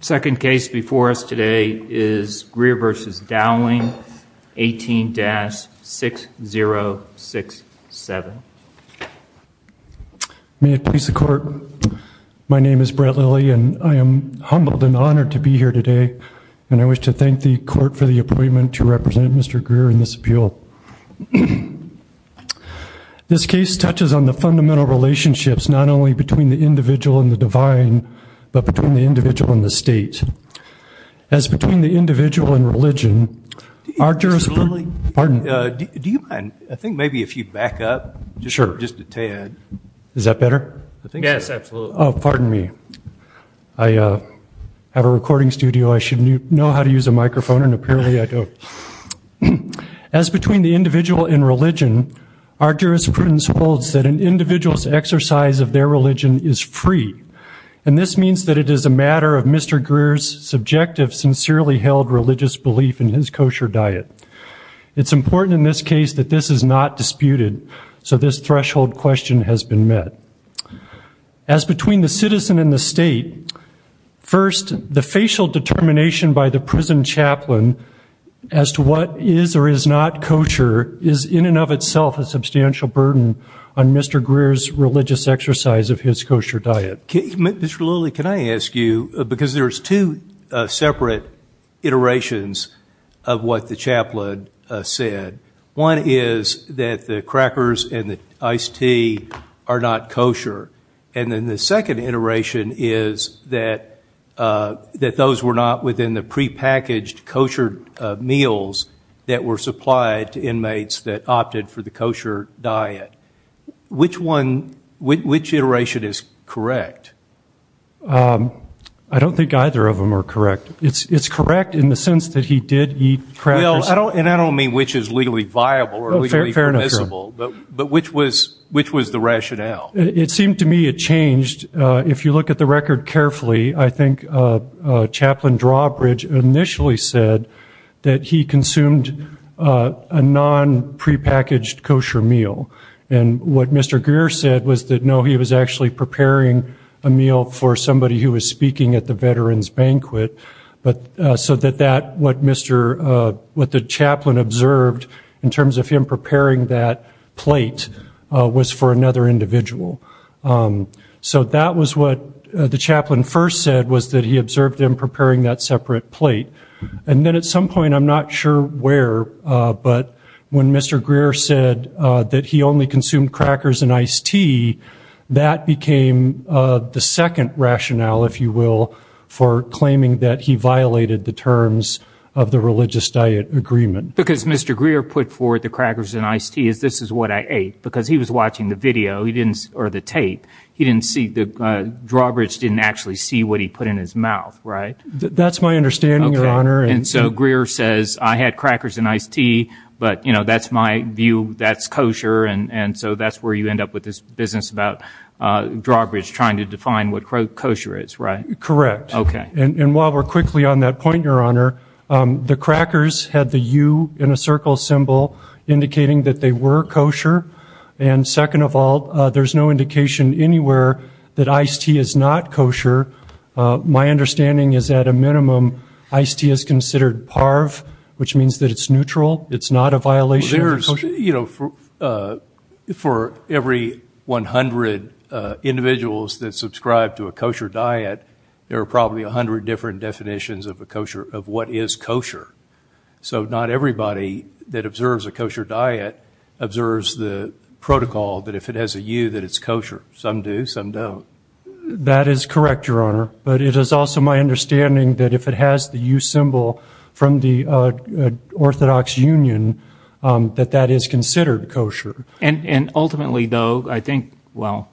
The second case before us today is Greer v. Dowling, 18-6067. May it please the Court, my name is Brett Lilly and I am humbled and honored to be here today, and I wish to thank the Court for the appointment to represent Mr. Greer in this appeal. This case touches on the fundamental relationships not only between the individual and the divine, but between the individual and the state. As between the individual and religion, our jurisprudence Mr. Lilly, do you mind, I think maybe if you back up just a tad. Is that better? Yes, absolutely. Oh, pardon me. I have a recording studio. I should know how to use a microphone, and apparently I don't. As between the individual and religion, our jurisprudence holds that an individual's exercise of their religion is free, and this means that it is a matter of Mr. Greer's subjective, sincerely held religious belief in his kosher diet. It's important in this case that this is not disputed, so this threshold question has been met. As between the citizen and the state, first, the facial determination by the prison chaplain as to what is or is not kosher is in and of itself a substantial burden on Mr. Greer's religious exercise of his kosher diet. Mr. Lilly, can I ask you, because there's two separate iterations of what the chaplain said. One is that the crackers and the iced tea are not kosher, and then the second iteration is that those were not within the prepackaged kosher meals that were supplied to inmates that opted for the kosher diet. Which iteration is correct? I don't think either of them are correct. It's correct in the sense that he did eat crackers. And I don't mean which is legally viable or legally permissible, but which was the rationale? It seemed to me it changed. If you look at the record carefully, I think Chaplain Drawbridge initially said that he consumed a non-prepackaged kosher meal. And what Mr. Greer said was that, no, he was actually preparing a meal for somebody who was speaking at the veteran's banquet, so that what the chaplain observed in terms of him preparing that plate was for another individual. So that was what the chaplain first said was that he observed him preparing that separate plate. And then at some point, I'm not sure where, but when Mr. Greer said that he only consumed crackers and iced tea, that became the second rationale, if you will, for claiming that he violated the terms of the religious diet agreement. Because Mr. Greer put forward the crackers and iced tea as this is what I ate, because he was watching the video or the tape. He didn't see, Drawbridge didn't actually see what he put in his mouth, right? That's my understanding, Your Honor. And so Greer says, I had crackers and iced tea, but that's my view, that's kosher, and so that's where you end up with this business about Drawbridge trying to define what kosher is, right? Correct. And while we're quickly on that point, Your Honor, the crackers had the U in a circle symbol indicating that they were kosher. And second of all, there's no indication anywhere that iced tea is not kosher. My understanding is at a minimum iced tea is considered parv, which means that it's neutral. It's not a violation of kosher. You know, for every 100 individuals that subscribe to a kosher diet, there are probably 100 different definitions of what is kosher. So not everybody that observes a kosher diet observes the protocol that if it has a U that it's kosher. Some do, some don't. That is correct, Your Honor, but it is also my understanding that if it has the U symbol from the Orthodox Union, that that is considered kosher. And ultimately, though, I think, well,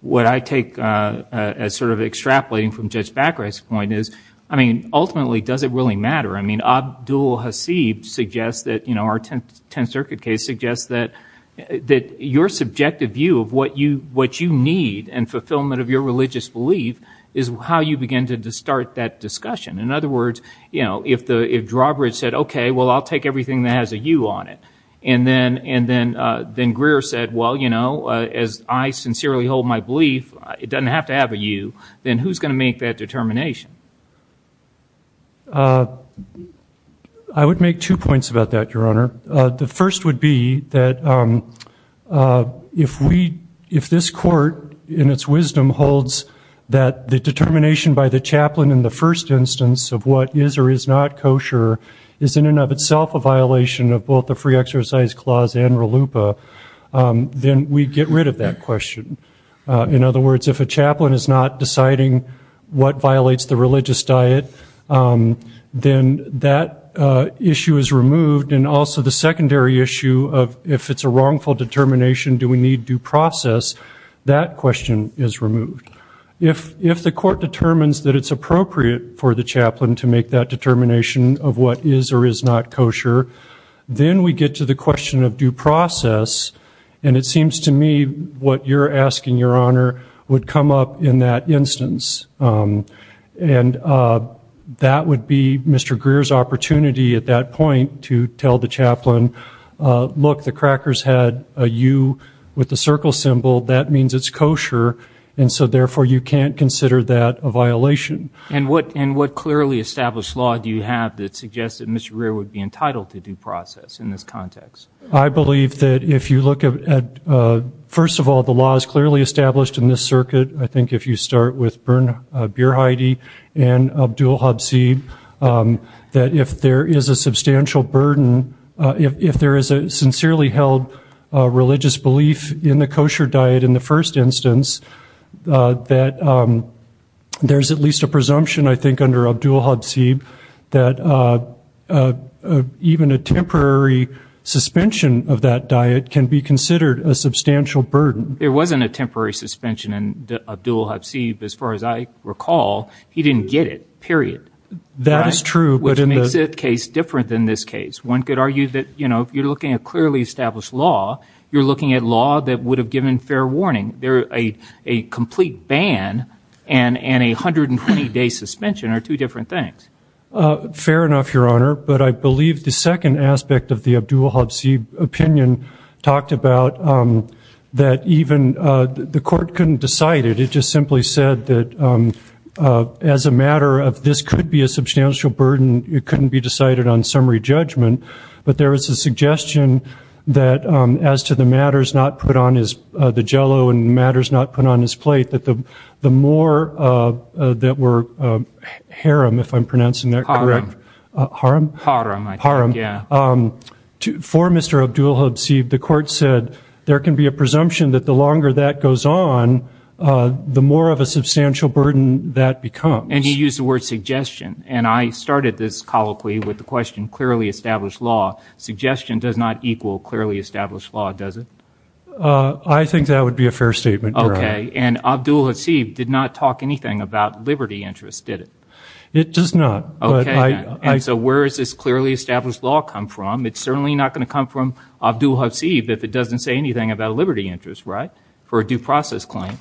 what I take as sort of extrapolating from Judge Baccarat's point is, I mean, ultimately does it really matter? I mean, Abdul Hasib suggests that, you know, our Tenth Circuit case suggests that your subjective view of what you need and fulfillment of your religious belief is how you begin to start that discussion. In other words, you know, if Drawbridge said, okay, well, I'll take everything that has a U on it, and then Greer said, well, you know, as I sincerely hold my belief, it doesn't have to have a U, then who's going to make that determination? I would make two points about that, Your Honor. The first would be that if this Court, in its wisdom, holds that the determination by the chaplain in the first instance of what is or is not kosher is in and of itself a violation of both the free exercise clause and RLUIPA, then we get rid of that question. In other words, if a chaplain is not deciding what violates the religious diet, then that issue is removed. And also the secondary issue of if it's a wrongful determination, do we need due process, that question is removed. If the Court determines that it's appropriate for the chaplain to make that determination of what is or is not kosher, then we get to the question of due process. And it seems to me what you're asking, Your Honor, would come up in that instance. And that would be Mr. Greer's opportunity at that point to tell the chaplain, look, if the crackers had a U with the circle symbol, that means it's kosher, and so therefore you can't consider that a violation. And what clearly established law do you have that suggests that Mr. Greer would be entitled to due process in this context? I believe that if you look at, first of all, the law is clearly established in this circuit. I think if you start with Bern Beerheide and Abdul Habsid, that if there is a substantial burden, if there is a sincerely held religious belief in the kosher diet in the first instance, that there's at least a presumption, I think, under Abdul Habsid, that even a temporary suspension of that diet can be considered a substantial burden. There wasn't a temporary suspension. And Abdul Habsid, as far as I recall, he didn't get it, period. That is true. Which makes that case different than this case. One could argue that, you know, if you're looking at clearly established law, you're looking at law that would have given fair warning. A complete ban and a 120-day suspension are two different things. Fair enough, Your Honor. But I believe the second aspect of the Abdul Habsid opinion talked about that even the court couldn't decide it. It just simply said that as a matter of this could be a substantial burden, it couldn't be decided on summary judgment. But there is a suggestion that as to the matters not put on his, the jello and matters not put on his plate, that the more that were haram, if I'm pronouncing that correctly. Haram. Haram? Haram, I think, yeah. For Mr. Abdul Habsid, the court said there can be a presumption that the longer that goes on, the more of a substantial burden that becomes. And you used the word suggestion. And I started this colloquy with the question clearly established law. Suggestion does not equal clearly established law, does it? I think that would be a fair statement, Your Honor. Okay. And Abdul Habsid did not talk anything about liberty interests, did it? It does not. Okay. And so where does this clearly established law come from? It's certainly not going to come from Abdul Habsid if it doesn't say anything about a liberty interest, right, for a due process claim.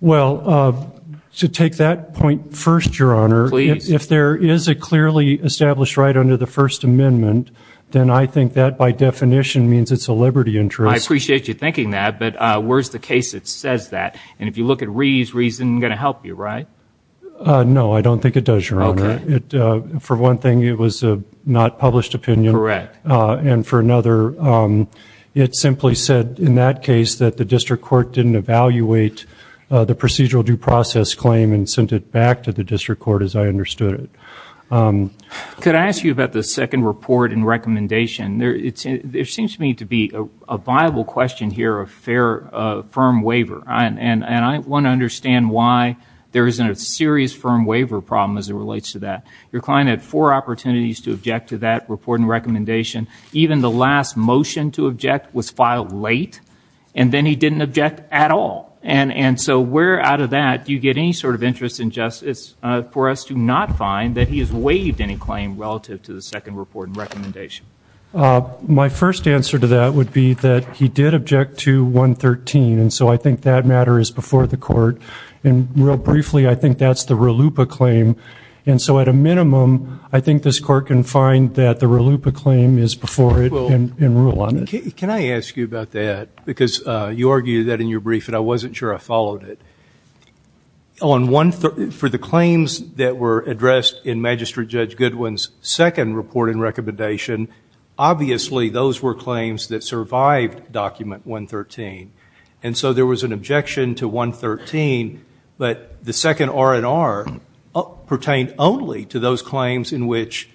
Well, to take that point first, Your Honor. Please. If there is a clearly established right under the First Amendment, then I think that by definition means it's a liberty interest. I appreciate you thinking that. But where is the case that says that? And if you look at Reeves, Reeves isn't going to help you, right? No, I don't think it does, Your Honor. Okay. For one thing, it was a not published opinion. Correct. And for another, it simply said, in that case, that the district court didn't evaluate the procedural due process claim and sent it back to the district court as I understood it. Could I ask you about the second report and recommendation? There seems to me to be a viable question here of fair firm waiver, and I want to understand why there isn't a serious firm waiver problem as it relates to that. Your client had four opportunities to object to that report and recommendation. Even the last motion to object was filed late, and then he didn't object at all. And so where out of that do you get any sort of interest in justice for us to not find that he has waived any claim relative to the second report and recommendation? My first answer to that would be that he did object to 113, and so I think that matter is before the court. And real briefly, I think that's the RLUIPA claim. And so at a minimum, I think this court can find that the RLUIPA claim is before it and rule on it. Can I ask you about that? Because you argued that in your brief, and I wasn't sure I followed it. For the claims that were addressed in Magistrate Judge Goodwin's second report and recommendation, obviously those were claims that survived document 113. And so there was an objection to 113, but the second R&R pertained only to those claims in which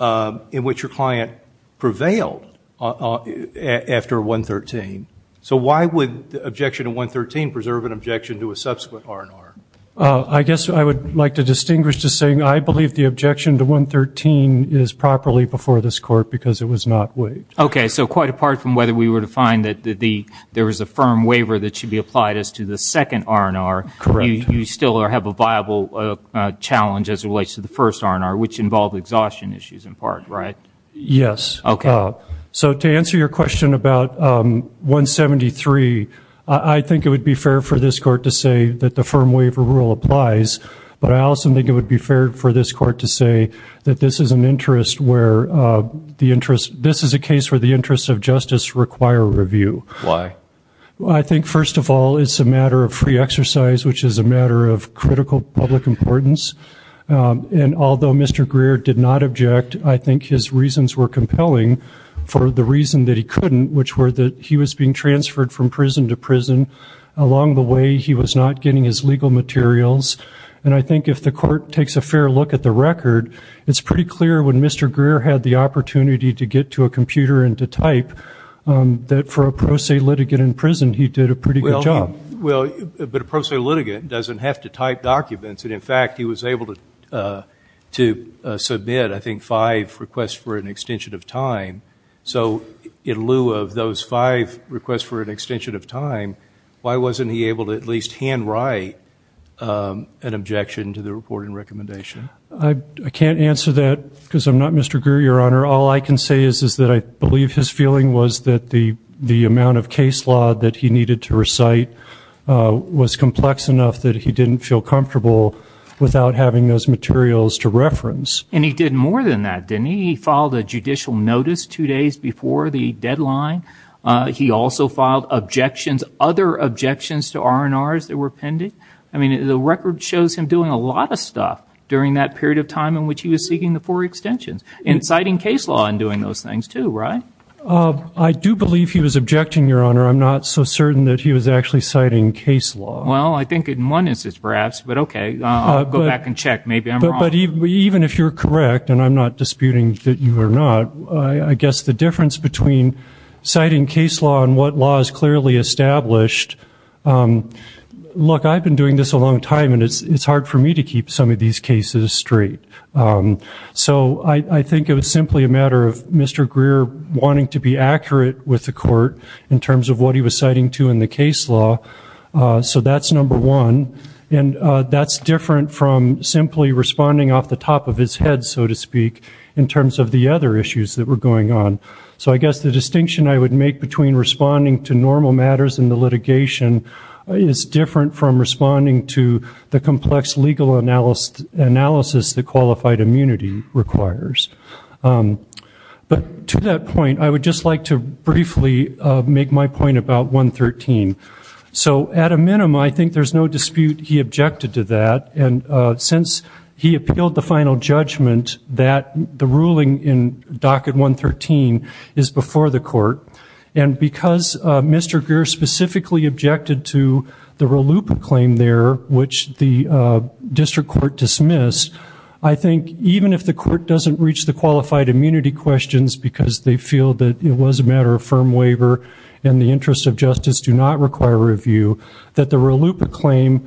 your client prevailed after 113. So why would the objection to 113 preserve an objection to a subsequent R&R? I guess I would like to distinguish to saying I believe the objection to 113 is properly before this court because it was not waived. Okay. So quite apart from whether we were to find that there was a firm waiver that should be applied as to the second R&R. Correct. You still have a viable challenge as it relates to the first R&R, which involved exhaustion issues in part, right? Yes. Okay. So to answer your question about 173, I think it would be fair for this court to say that the firm waiver rule applies, but I also think it would be fair for this court to say that this is a case where the interests of justice require review. Why? I think, first of all, it's a matter of free exercise, which is a matter of critical public importance. And although Mr. Greer did not object, I think his reasons were compelling for the reason that he couldn't, which were that he was being transferred from prison to prison. Along the way, he was not getting his legal materials. And I think if the court takes a fair look at the record, it's pretty clear when Mr. Greer had the opportunity to get to a computer and to type that for a pro se litigant in prison, he did a pretty good job. Well, but a pro se litigant doesn't have to type documents. And, in fact, he was able to submit, I think, five requests for an extension of time. So in lieu of those five requests for an extension of time, why wasn't he able to at least hand write an objection to the report and recommendation? I can't answer that because I'm not Mr. Greer, Your Honor. All I can say is that I believe his feeling was that the amount of case law that he needed to recite was complex enough that he didn't feel comfortable without having those materials to reference. And he did more than that, didn't he? He filed a judicial notice two days before the deadline. He also filed objections, other objections to R&Rs that were pending. I mean, the record shows him doing a lot of stuff during that period of time in which he was seeking the four extensions. And citing case law in doing those things, too, right? I do believe he was objecting, Your Honor. I'm not so certain that he was actually citing case law. Well, I think in one instance, perhaps. But, okay, I'll go back and check. Maybe I'm wrong. But even if you're correct, and I'm not disputing that you are not, I guess the difference between citing case law and what law is clearly established, look, I've been doing this a long time, and it's hard for me to keep some of these cases straight. So I think it was simply a matter of Mr. Greer wanting to be accurate with the court in terms of what he was citing to in the case law. So that's number one. And that's different from simply responding off the top of his head, so to speak, in terms of the other issues that were going on. So I guess the distinction I would make between responding to normal matters in the litigation is different from responding to the complex legal analysis that qualified immunity requires. But to that point, I would just like to briefly make my point about 113. So at a minimum, I think there's no dispute he objected to that. And since he appealed the final judgment that the ruling in docket 113 is before the court, and because Mr. Greer specifically objected to the RLUIPA claim there, which the district court dismissed, I think even if the court doesn't reach the qualified immunity questions because they feel that it was a matter of firm waiver and the interests of justice do not require review, that the RLUIPA claim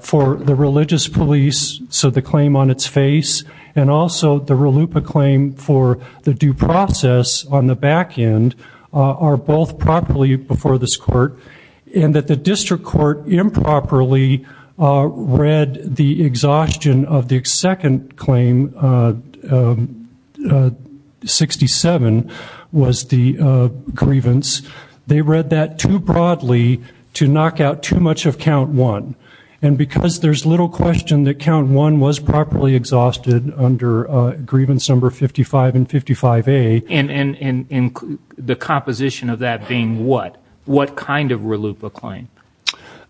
for the religious police, so the claim on its face, and also the RLUIPA claim for the due process on the back end, are both properly before this court. And that the district court improperly read the exhaustion of the second claim, 67, was the grievance. They read that too broadly to knock out too much of count one. And because there's little question that count one was properly exhausted under grievance number 55 and 55A. And the composition of that being what? What kind of RLUIPA claim?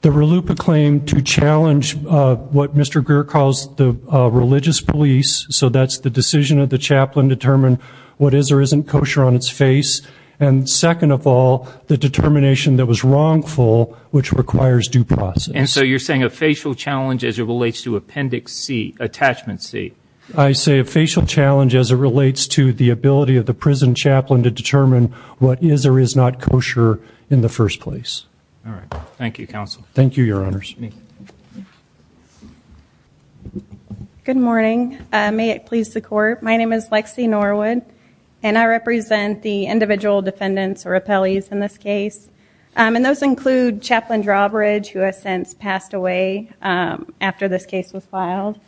The RLUIPA claim to challenge what Mr. Greer calls the religious police. So that's the decision of the chaplain to determine what is or isn't kosher on its face. And second of all, the determination that was wrongful, which requires due process. And so you're saying a facial challenge as it relates to appendix C, attachment C. I say a facial challenge as it relates to the ability of the prison chaplain to determine what is or is not kosher in the first place. All right. Thank you, counsel. Thank you, your honors. Good morning. May it please the court. My name is Lexi Norwood, and I represent the individual defendants or appellees in this case. And those include Chaplain Drawbridge, who has since passed away after this case was filed.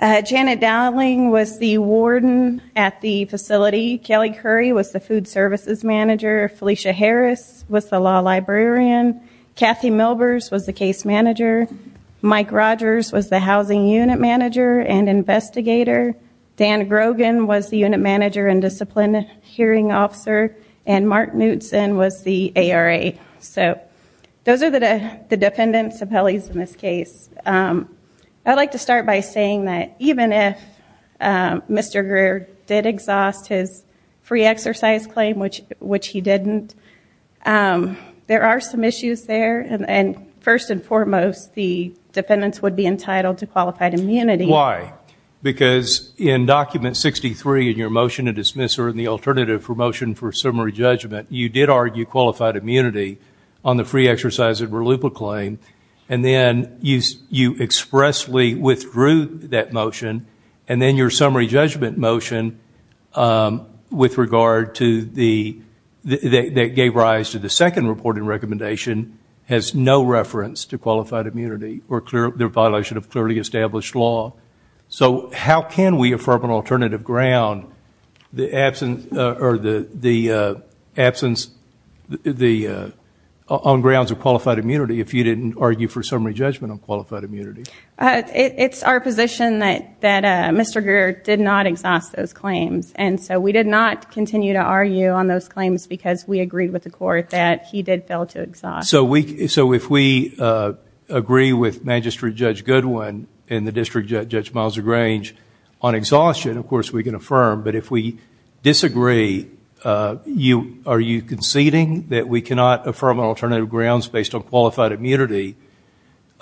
Janet Dowling was the warden at the facility. Kelly Curry was the food services manager. Felicia Harris was the law librarian. Kathy Milbers was the case manager. Mike Rogers was the housing unit manager and investigator. Dan Grogan was the unit manager and discipline hearing officer. And Mark Knutson was the ARA. So those are the defendants, appellees in this case. I'd like to start by saying that even if Mr. Greer did exhaust his free exercise claim, which he didn't, there are some issues there. And first and foremost, the defendants would be entitled to qualified immunity. Why? Because in Document 63, in your motion to dismiss her in the alternative for motion for summary judgment, you did argue qualified immunity on the free exercise that were loop-a-claim. And then you expressly withdrew that motion. And then your summary judgment motion with regard to the – that gave rise to the second reporting recommendation has no reference to qualified immunity or the violation of clearly established law. So how can we affirm an alternative ground, the absence or the absence on grounds of qualified immunity, if you didn't argue for summary judgment on qualified immunity? It's our position that Mr. Greer did not exhaust those claims. And so we did not continue to argue on those claims because we agreed with the court that he did fail to exhaust. So if we agree with Magistrate Judge Goodwin and the District Judge Miles O'Grange on exhaustion, of course we can affirm. But if we disagree, are you conceding that we cannot affirm an alternative grounds based on qualified immunity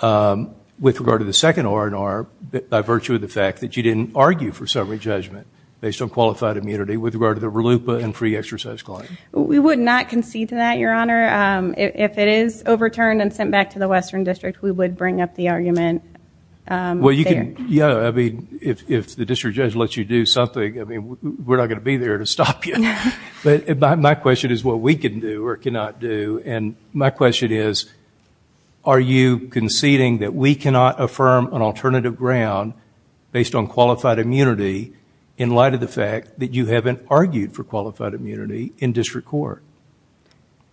with regard to the second R&R by virtue of the fact that you didn't argue for summary judgment based on qualified immunity with regard to the loop-a and free exercise claim? We would not concede to that, Your Honor. If it is overturned and sent back to the Western District, we would bring up the argument there. Well, you can – yeah, I mean, if the District Judge lets you do something, I mean, we're not going to be there to stop you. But my question is what we can do or cannot do. And my question is are you conceding that we cannot affirm an alternative ground based on qualified immunity in light of the fact that you haven't argued for qualified immunity in district court?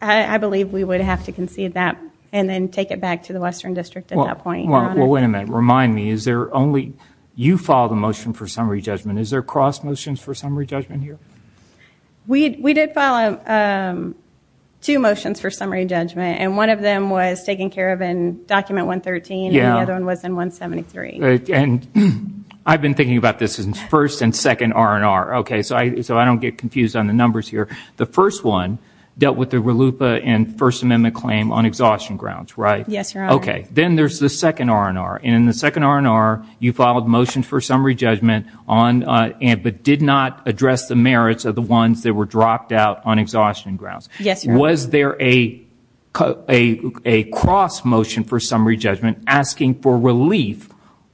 I believe we would have to concede that and then take it back to the Western District at that point, Your Honor. Well, wait a minute. Remind me, is there only – you filed a motion for summary judgment. Is there cross motions for summary judgment here? We did file two motions for summary judgment. And one of them was taken care of in Document 113 and the other one was in 173. And I've been thinking about this in first and second R&R. Okay, so I don't get confused on the numbers here. The first one dealt with the loop-a and First Amendment claim on exhaustion grounds, right? Yes, Your Honor. Okay. Then there's the second R&R. And in the second R&R, you filed motions for summary judgment but did not address the merits of the ones that were dropped out on exhaustion grounds. Yes, Your Honor. Was there a cross motion for summary judgment asking for relief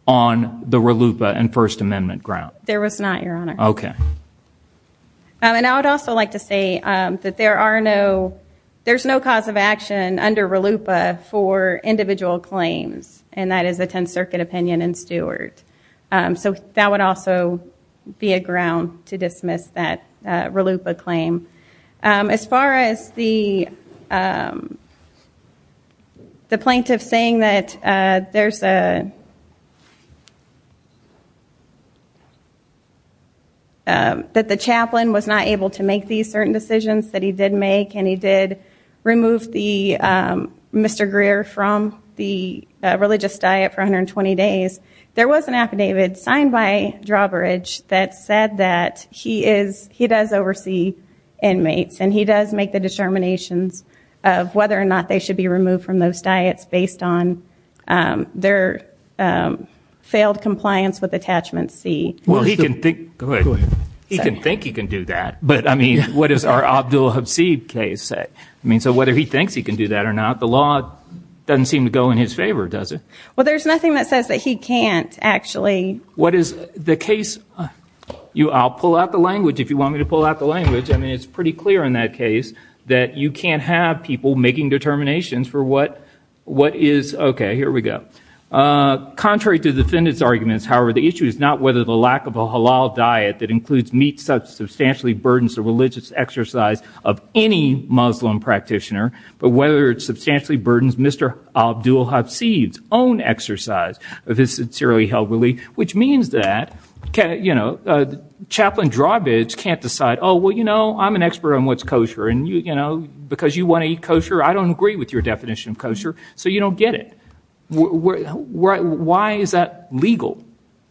on the loop-a and First Amendment ground? There was not, Your Honor. Okay. And I would also like to say that there are no – there's no cause of action under loop-a for individual claims. And that is a 10th Circuit opinion and steward. So that would also be a ground to dismiss that loop-a claim. As far as the plaintiff saying that there's a – that the chaplain was not able to make these certain decisions that he did make and he did remove the Mr. Greer from the religious diet for 120 days, there was an affidavit signed by Drawbridge that said that he is – he does oversee inmates and he does make the determinations of whether or not they should be removed from those diets based on their failed compliance with Attachment C. Well, he can think – good. Go ahead. He can think he can do that. But, I mean, what does our Abdul Habsib case say? I mean, so whether he thinks he can do that or not, the law doesn't seem to go in his favor, does it? Well, there's nothing that says that he can't, actually. What is the case – I'll pull out the language if you want me to pull out the language. I mean, it's pretty clear in that case that you can't have people making determinations for what is – okay, here we go. Contrary to the defendant's arguments, however, the issue is not whether the lack of a halal diet that includes meat substantially burdens the religious exercise of any Muslim practitioner, but whether it substantially burdens Mr. Abdul Habsib's own exercise of his sincerely held belief, which means that Chaplain Drawbridge can't decide, oh, well, you know, I'm an expert on what's kosher, and because you want to eat kosher, I don't agree with your definition of kosher, so you don't get it. Why is that legal?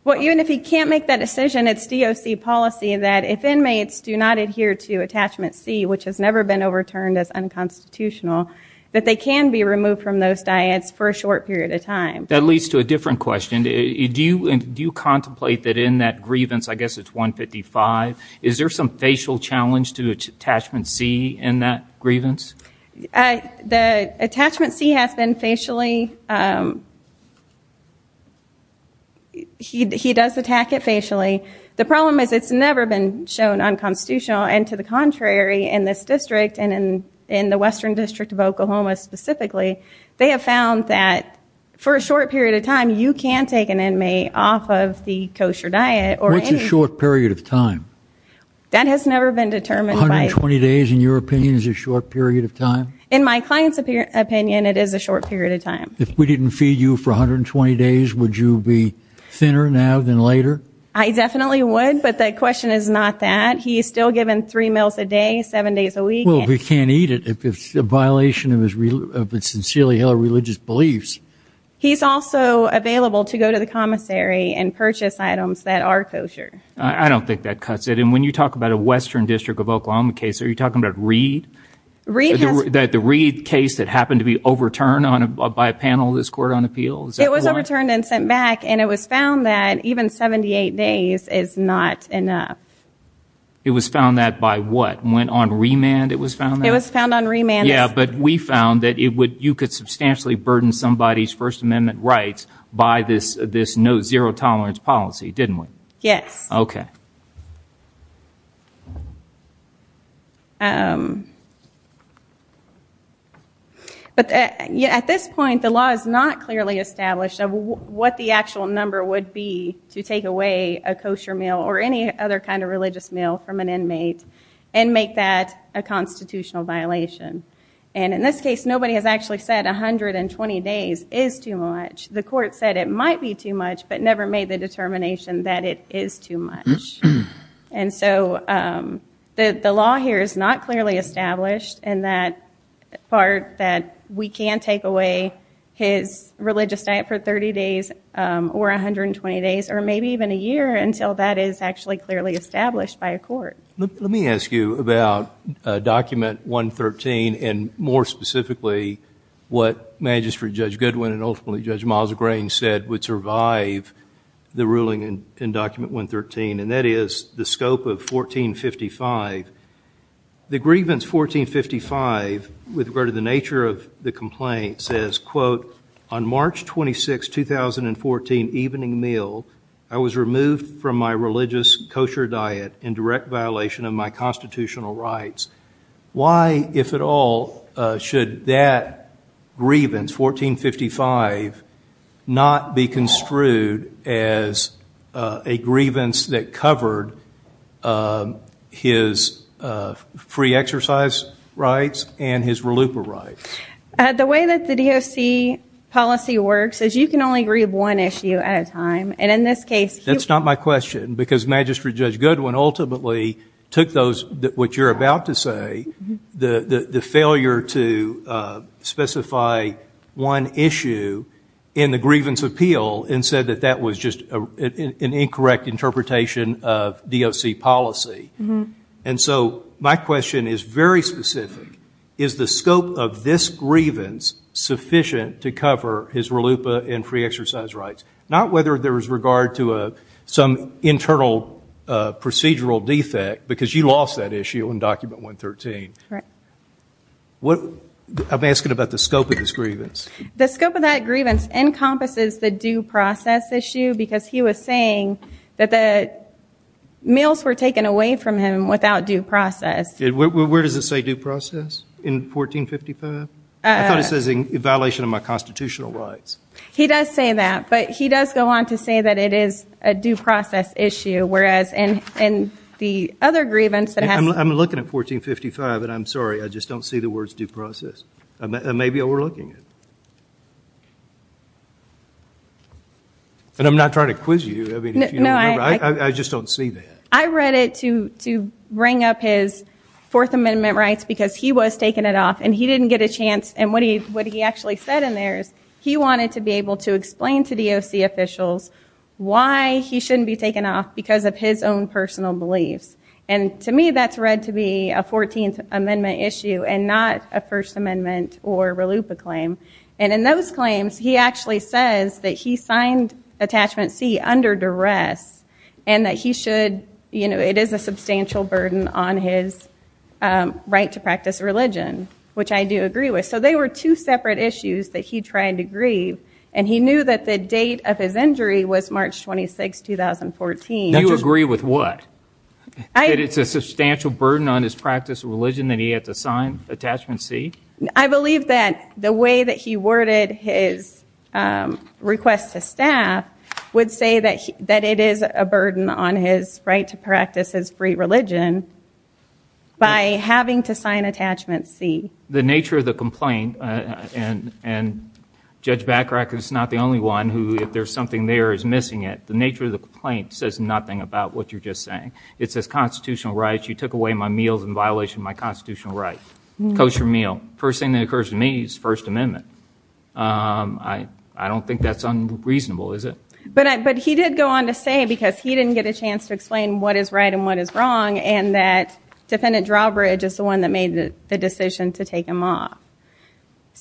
Well, even if he can't make that decision, it's DOC policy that if inmates do not adhere to Attachment C, which has never been overturned as unconstitutional, that they can be removed from those diets for a short period of time. That leads to a different question. Do you contemplate that in that grievance – I guess it's 155 – is there some facial challenge to Attachment C in that grievance? The Attachment C has been facially – he does attack it facially. The problem is it's never been shown unconstitutional, and to the contrary, in this district and in the Western District of Oklahoma specifically, they have found that for a short period of time, you can take an inmate off of the kosher diet or any – What's a short period of time? That has never been determined by – In my client's opinion, it is a short period of time. If we didn't feed you for 120 days, would you be thinner now than later? I definitely would, but the question is not that. He is still given three meals a day, seven days a week. Well, if he can't eat it, it's a violation of his sincerely held religious beliefs. He's also available to go to the commissary and purchase items that are kosher. I don't think that cuts it. And when you talk about a Western District of Oklahoma case, are you talking about Reed? Reed has – The Reed case that happened to be overturned by a panel of this court on appeals? It was overturned and sent back, and it was found that even 78 days is not enough. It was found that by what? Went on remand it was found that? It was found on remand. Yeah, but we found that you could substantially burden somebody's First Amendment rights by this no zero tolerance policy, didn't we? Yes. Okay. But at this point, the law is not clearly established of what the actual number would be to take away a kosher meal or any other kind of religious meal from an inmate and make that a constitutional violation. And in this case, nobody has actually said 120 days is too much. The court said it might be too much but never made the determination that it is too much. And so the law here is not clearly established in that part that we can take away his religious diet for 30 days or 120 days or maybe even a year until that is actually clearly established by a court. Let me ask you about Document 113 and more specifically what Magistrate Judge Goodwin and ultimately Judge Miles O'Grane said would survive the ruling in Document 113, and that is the scope of 1455. The grievance 1455 with regard to the nature of the complaint says, quote, on March 26, 2014, evening meal, I was removed from my religious kosher diet in direct violation of my constitutional rights. Why, if at all, should that grievance, 1455, not be construed as a grievance that covered his free exercise rights and his reluper rights? The way that the DOC policy works is you can only grieve one issue at a time, and in this case he- That's not my question because Magistrate Judge Goodwin ultimately took those, what you're about to say, the failure to specify one issue in the grievance appeal and said that that was just an incorrect interpretation of DOC policy. And so my question is very specific. Is the scope of this grievance sufficient to cover his relupa and free exercise rights? Not whether there is regard to some internal procedural defect, because you lost that issue in Document 113. Right. I'm asking about the scope of this grievance. The scope of that grievance encompasses the due process issue because he was saying that the meals were taken away from him without due process. Where does it say due process in 1455? I thought it says in violation of my constitutional rights. He does say that, but he does go on to say that it is a due process issue, whereas in the other grievance that has- I'm looking at 1455, and I'm sorry, I just don't see the words due process. It may be overlooking it. And I'm not trying to quiz you. I mean, if you don't remember. No, I- I just don't see that. I read it to bring up his Fourth Amendment rights because he was taking it off, and he didn't get a chance. And what he actually said in there is he wanted to be able to explain to DOC officials why he shouldn't be taken off because of his own personal beliefs. And to me, that's read to be a Fourteenth Amendment issue and not a First Amendment or RLUIPA claim. And in those claims, he actually says that he signed Attachment C under duress and that he should-you know, it is a substantial burden on his right to practice religion, which I do agree with. So they were two separate issues that he tried to grieve, and he knew that the date of his injury was March 26, 2014. Now, do you agree with what? That it's a substantial burden on his practice of religion that he had to sign Attachment C? I believe that the way that he worded his request to staff would say that it is a burden on his right to practice his free religion by having to sign Attachment C. The nature of the complaint, and Judge Bachrach is not the only one who, if there's something there, is missing it. The nature of the complaint says nothing about what you're just saying. It says constitutional rights. You took away my meals in violation of my constitutional rights. Coach your meal. First thing that occurs to me is First Amendment. I don't think that's unreasonable, is it? But he did go on to say, because he didn't get a chance to explain what is right and what is wrong, and that Defendant Drawbridge is the one that made the decision to take him off.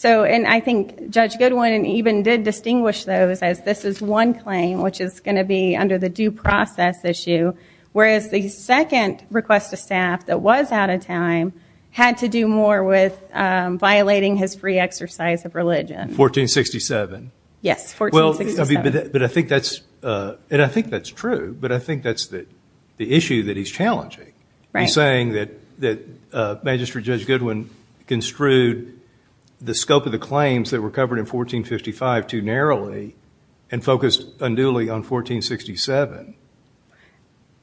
And I think Judge Goodwin even did distinguish those as this is one claim, which is going to be under the due process issue, whereas the second request to staff that was out of time had to do more with violating his free exercise of religion. 1467. Yes, 1467. But I think that's true, but I think that's the issue that he's challenging. He's saying that Magistrate Judge Goodwin construed the scope of the claims that were covered in 1455 too narrowly and focused unduly on 1467.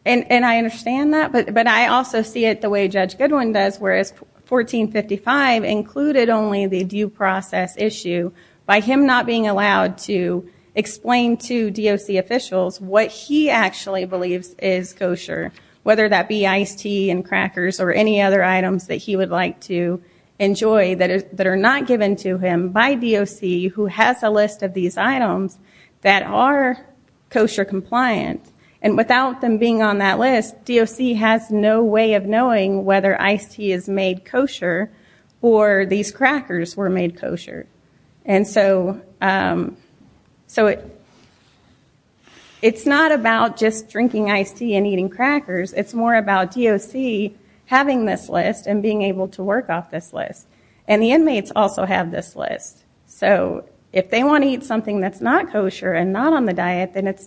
And I understand that, but I also see it the way Judge Goodwin does, whereas 1455 included only the due process issue by him not being allowed to explain to DOC officials what he actually believes is kosher, whether that be iced tea and crackers or any other items that he would like to enjoy that are not given to him by DOC who has a list of these items that are kosher compliant. And without them being on that list, DOC has no way of knowing whether iced tea is made kosher or these crackers were made kosher. And so it's not about just drinking iced tea and eating crackers. It's more about DOC having this list and being able to work off this list. And the inmates also have this list. So if they want to eat something that's not kosher and not on the diet, then it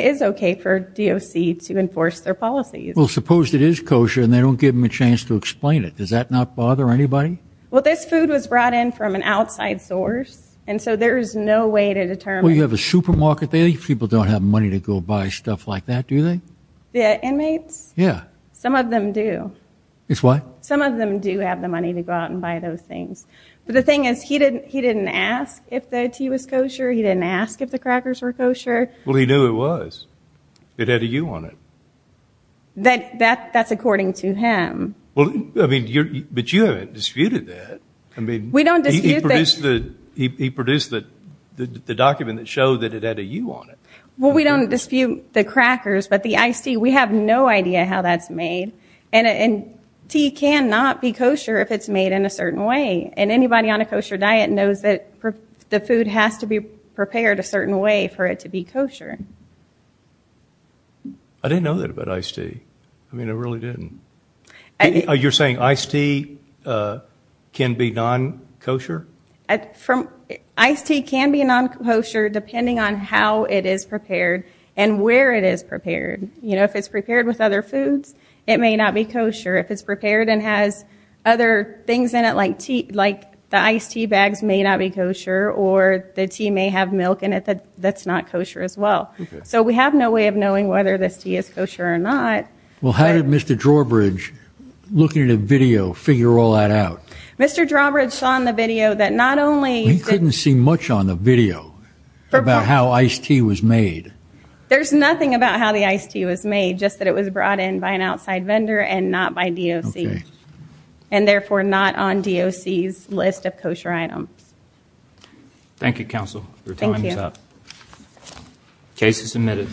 is okay for DOC to enforce their policies. Well, suppose it is kosher and they don't give them a chance to explain it. Does that not bother anybody? Well, this food was brought in from an outside source, and so there is no way to determine. Well, you have a supermarket there. People don't have money to go buy stuff like that, do they? The inmates? Yeah. Some of them do. It's what? Some of them do have the money to go out and buy those things. But the thing is, he didn't ask if the tea was kosher. He didn't ask if the crackers were kosher. Well, he knew it was. It had a U on it. That's according to him. But you haven't disputed that. He produced the document that showed that it had a U on it. Well, we don't dispute the crackers, but the iced tea, we have no idea how that's made. And tea cannot be kosher if it's made in a certain way. And anybody on a kosher diet knows that the food has to be prepared a certain way for it to be kosher. I didn't know that about iced tea. I mean, I really didn't. You're saying iced tea can be non-kosher? Iced tea can be non-kosher depending on how it is prepared and where it is prepared. You know, if it's prepared with other foods, it may not be kosher. If it's prepared and has other things in it, like the iced tea bags, may not be kosher, or the tea may have milk in it that's not kosher as well. So we have no way of knowing whether this tea is kosher or not. Well, how did Mr. Drawbridge, looking at a video, figure all that out? Mr. Drawbridge saw in the video that not only— He couldn't see much on the video about how iced tea was made. There's nothing about how the iced tea was made, just that it was brought in by an outside vendor and not by DOC, and therefore not on DOC's list of kosher items. Thank you, Counsel. Your time is up. Case is admitted.